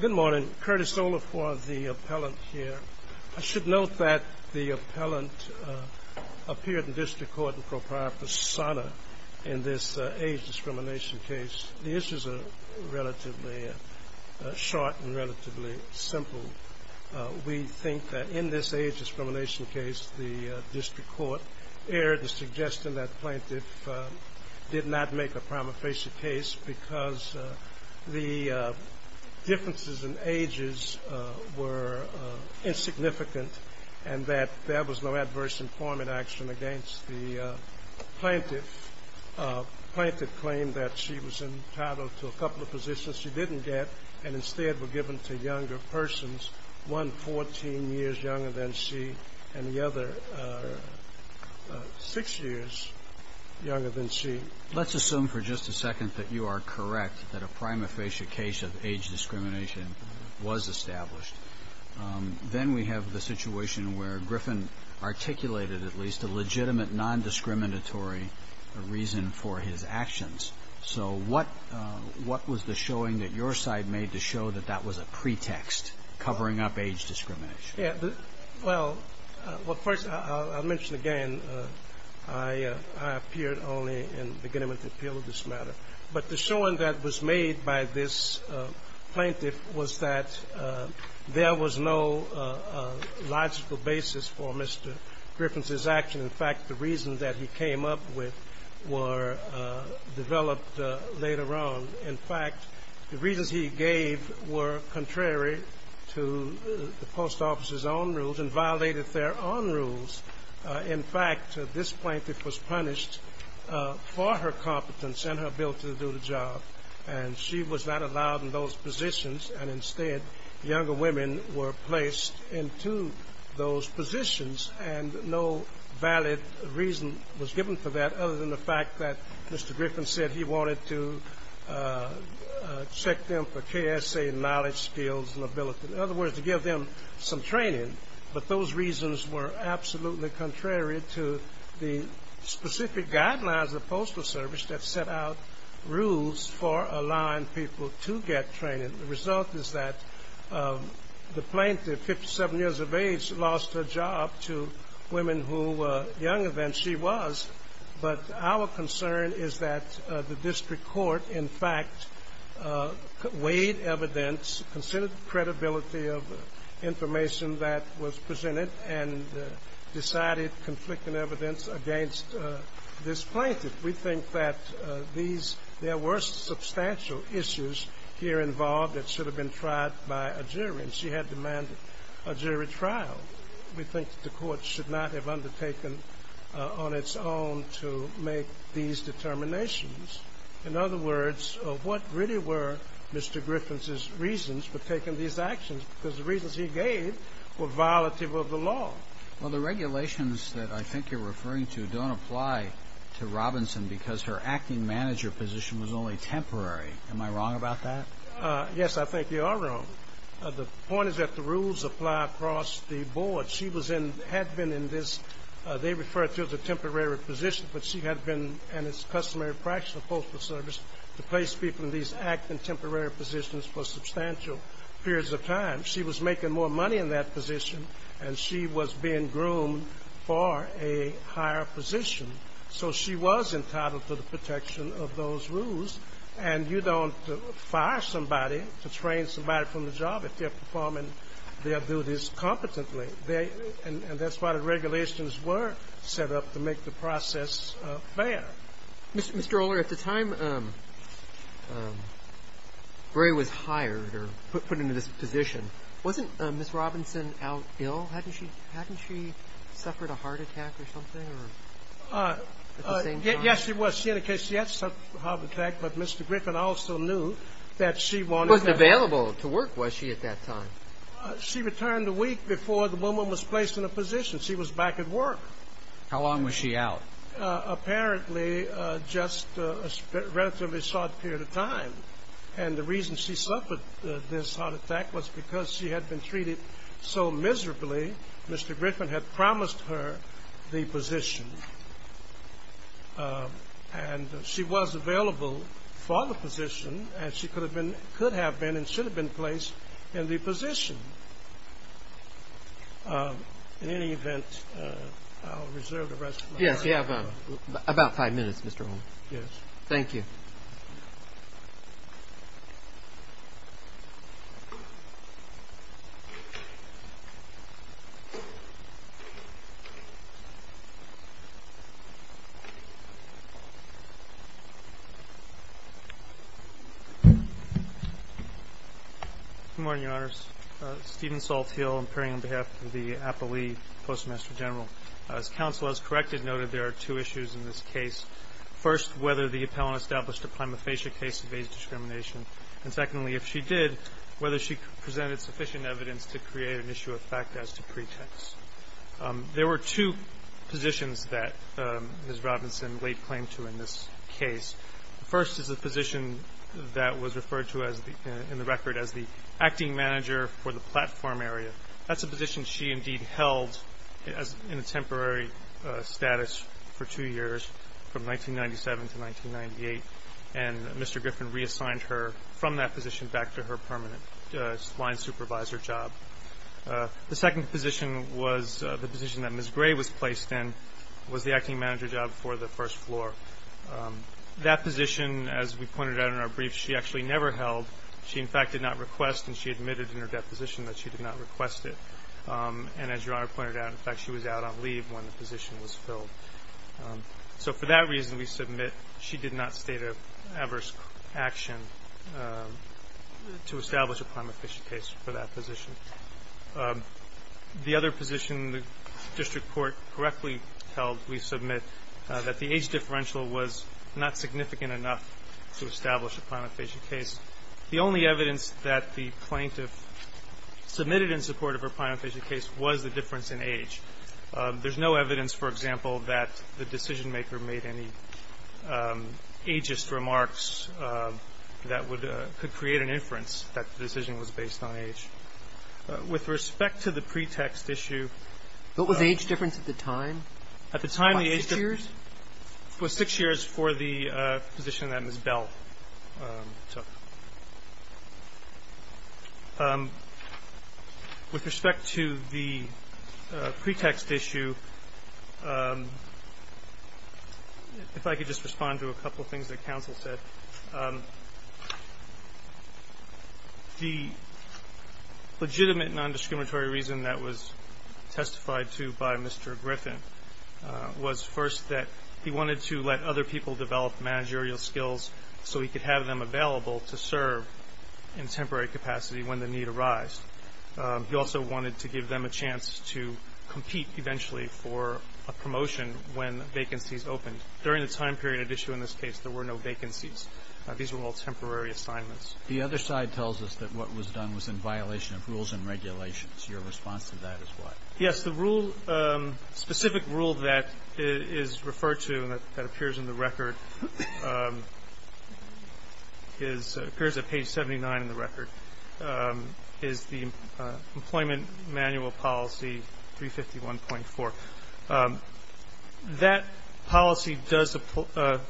Good morning, Curtis Olafore, the appellant here. I should note that the appellant appeared in district court in Pro Prima Fasana in this age discrimination case. The issues are relatively short and relatively simple. We think that in this age discrimination case, the district court erred in suggesting that the plaintiff did not make a prima facie case because the differences in ages were insignificant and that there was no adverse employment action against the plaintiff. The plaintiff claimed that she was entitled to a couple of positions she didn't get and instead were given to younger persons, one 14 years younger than she and the other 6 years younger than she. Let's assume for just a second that you are correct that a prima facie case of age discrimination was established. Then we have the situation where Griffin articulated at least a legitimate non-discriminatory reason for his actions. So what was the showing that your side made to show that that was a pretext covering up age discrimination? Well, first I'll mention again, I appeared only in beginning with the appeal of this matter. But the showing that was made by this plaintiff was that there was no logical basis for Mr. Griffin's actions. In fact, the reasons that he came up with were developed later on. In fact, the reasons he gave were contrary to the post office's own rules and violated their own rules. In fact, this plaintiff was punished for her competence and her ability to do the job. And she was not allowed in those positions and instead younger women were placed into those positions. And no valid reason was given for that other than the fact that Mr. Griffin said he wanted to check them for KSA knowledge, skills, and ability. In other words, to give them some training. But those reasons were absolutely contrary to the specific guidelines of the Postal Service that set out rules for allowing people to get training. The result is that the plaintiff, 57 years of age, lost her job to women who were younger than she was. But our concern is that the district court, in fact, weighed evidence, considered the credibility of the information that was presented, and decided conflicting evidence against this plaintiff. We think that there were substantial issues here involved that should have been tried by a jury, and she had demanded a jury trial. We think that the court should not have undertaken on its own to make these determinations. In other words, what really were Mr. Griffin's reasons for taking these actions? Because the reasons he gave were violative of the law. Well, the regulations that I think you're referring to don't apply to Robinson because her acting manager position was only temporary. Am I wrong about that? Yes, I think you are wrong. The point is that the rules apply across the board. She was in, had been in this, they refer to it as a temporary position, but she had been, and it's customary practice of Postal Service, to place people in these acting temporary positions for substantial periods of time. She was making more money in that position, and she was being groomed for a higher position. So she was entitled to the protection of those rules, and you don't fire somebody to train somebody from the job if they're performing their duties competently. And that's why the regulations were set up to make the process fair. Mr. Ohler, at the time Bray was hired or put into this position, wasn't Ms. Robinson out ill? Hadn't she suffered a heart attack or something at the same time? Yes, she was. In any case, she had suffered a heart attack, but Mr. Griffin also knew that she wanted to work. Wasn't available to work, was she, at that time? She returned a week before the woman was placed in a position. She was back at work. How long was she out? Apparently, just a relatively short period of time. And the reason she suffered this heart attack was because she had been treated so miserably, Mr. Griffin had promised her the position. And she was available for the position, and she could have been and should have been placed in the position. In any event, I'll reserve the rest of my time. Yes, you have about five minutes, Mr. Ohler. Thank you. Good morning, Your Honors. Stephen Salthill, appearing on behalf of the Appellee Postmaster General. As counsel has corrected, noted there are two issues in this case. First, whether the appellant established a prima facie case of age discrimination. And secondly, if she did, whether she presented sufficient evidence to create an issue of fact as to pretext. There were two positions that Ms. Robinson laid claim to in this case. The first is a position that was referred to in the record as the acting manager for the platform area. That's a position she indeed held in a temporary status for two years, from 1997 to 1998. And Mr. Griffin reassigned her from that position back to her permanent line supervisor job. The second position was the position that Ms. Gray was placed in, was the acting manager job for the first floor. That position, as we pointed out in our brief, she actually never held. She, in fact, did not request and she admitted in her deposition that she did not request it. And as Your Honor pointed out, in fact, she was out on leave when the position was filled. So for that reason, we submit she did not state an adverse action to establish a prima facie case for that position. The other position the district court correctly held, we submit that the age differential was not significant enough to establish a prima facie case. The only evidence that the plaintiff submitted in support of her prima facie case was the difference in age. There's no evidence, for example, that the decisionmaker made any ageist remarks that would could create an inference that the decision was based on age. With respect to the pretext issue of the age difference at the time. At the time, the age difference was six years for the position that Ms. Bell took. With respect to the pretext issue, if I could just respond to a couple of things that counsel said. The legitimate nondiscriminatory reason that was testified to by Mr. Griffin was first that he wanted to let other people develop managerial skills so he could have them available to serve in temporary capacity when the need arised. He also wanted to give them a chance to compete eventually for a promotion when vacancies opened. During the time period at issue in this case, there were no vacancies. These were all temporary assignments. The other side tells us that what was done was in violation of rules and regulations. Your response to that is what? Yes. The specific rule that is referred to and that appears in the record, appears at page 79 in the record, is the Employment Manual Policy 351.4. That policy does,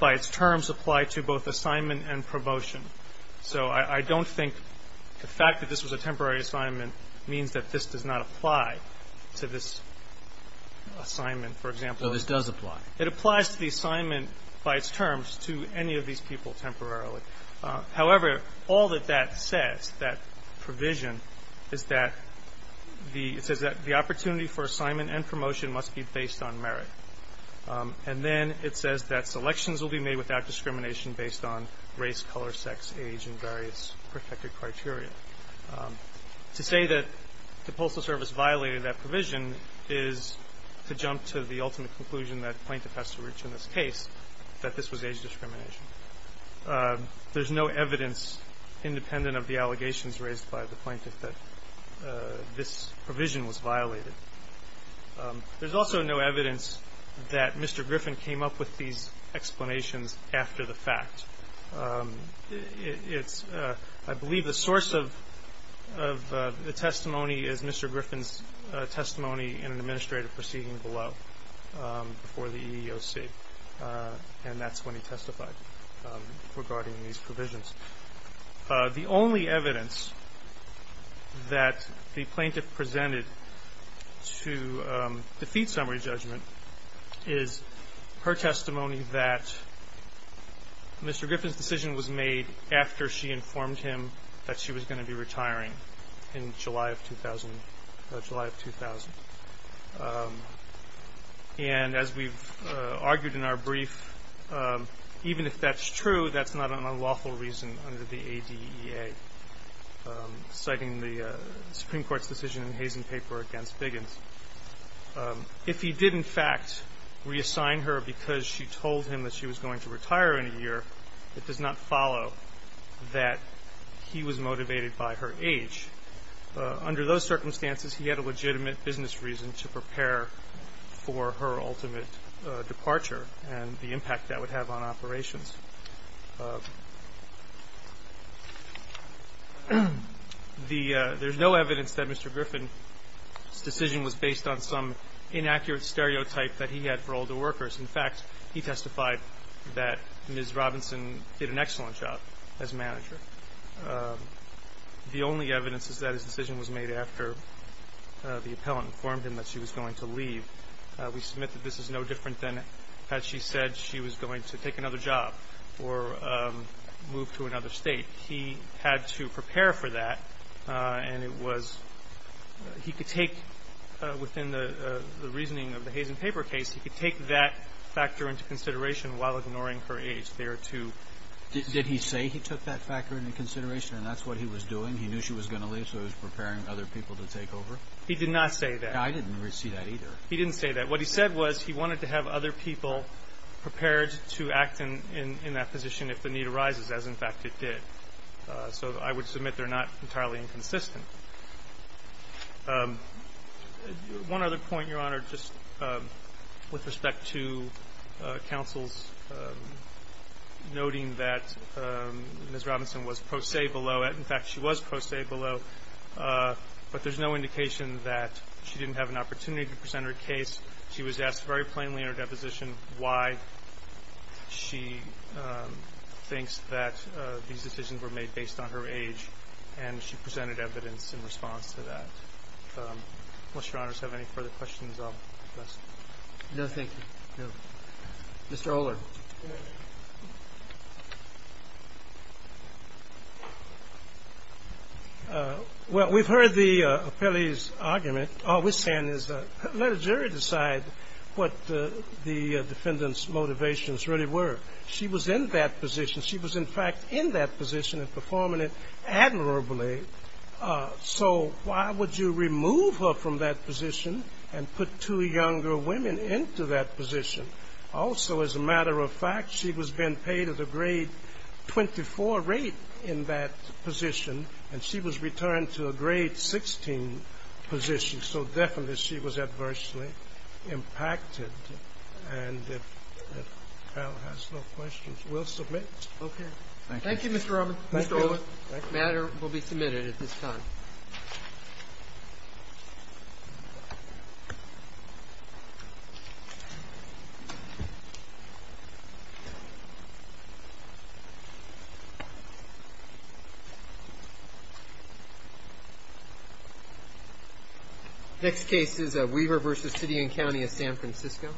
by its terms, apply to both assignment and promotion. So I don't think the fact that this was a temporary assignment means that this does not apply to this assignment, for example. No, this does apply. It applies to the assignment by its terms to any of these people temporarily. However, all that that says, that provision, is that the opportunity for assignment and promotion must be based on merit. And then it says that selections will be made without discrimination based on race, color, sex, age, and various protected criteria. To say that the Postal Service violated that provision is to jump to the ultimate conclusion that the plaintiff has to reach in this case that this was age discrimination. There's no evidence, independent of the allegations raised by the plaintiff, that this provision was violated. There's also no evidence that Mr. Griffin came up with these explanations after the fact. I believe the source of the testimony is Mr. Griffin's testimony in an administrative proceeding below, before the EEOC, and that's when he testified regarding these provisions. The only evidence that the plaintiff presented to defeat summary judgment is her testimony that Mr. Griffin's decision was made after she informed him that she was going to be retiring in July of 2000. And as we've argued in our brief, even if that's true, that's not an unlawful reason under the ADEA, citing the Supreme Court's decision in the Hazen paper against Biggins. If he did, in fact, reassign her because she told him that she was going to retire in a year, it does not follow that he was motivated by her age. Under those circumstances, he had a legitimate business reason to prepare for her ultimate departure and the impact that would have on operations. There's no evidence that Mr. Griffin's decision was based on some inaccurate stereotype that he had for older workers. In fact, he testified that Ms. Robinson did an excellent job as manager. The only evidence is that his decision was made after the appellant informed him that she was going to leave. We submit that this is no different than had she said she was going to take another job. Or move to another state. He had to prepare for that. And it was he could take within the reasoning of the Hazen paper case, he could take that factor into consideration while ignoring her age. There are two. Did he say he took that factor into consideration and that's what he was doing? He knew she was going to leave, so he was preparing other people to take over? He did not say that. I didn't see that either. He didn't say that. What he said was he wanted to have other people prepared to act in that position if the need arises, as, in fact, it did. So I would submit they're not entirely inconsistent. One other point, Your Honor, just with respect to counsel's noting that Ms. Robinson was pro se below. In fact, she was pro se below. But there's no indication that she didn't have an opportunity to present her case. She was asked very plainly in her deposition why she thinks that these decisions were made based on her age. And she presented evidence in response to that. Unless Your Honors have any further questions, I'll pass it. No, thank you. Mr. Oler. Well, we've heard the appellee's argument. All we're saying is let a jury decide what the defendant's motivations really were. She was in that position. She was, in fact, in that position and performing it admirably. So why would you remove her from that position and put two younger women into that position? Also, as a matter of fact, she was being paid at a grade 24 rate in that position. And she was returned to a grade 16 position. So definitely she was adversely impacted. And if the panel has no questions, we'll submit. Okay. Thank you, Mr. Oler. The matter will be submitted at this time. Thank you. Next case is Weaver v. City and County of San Francisco.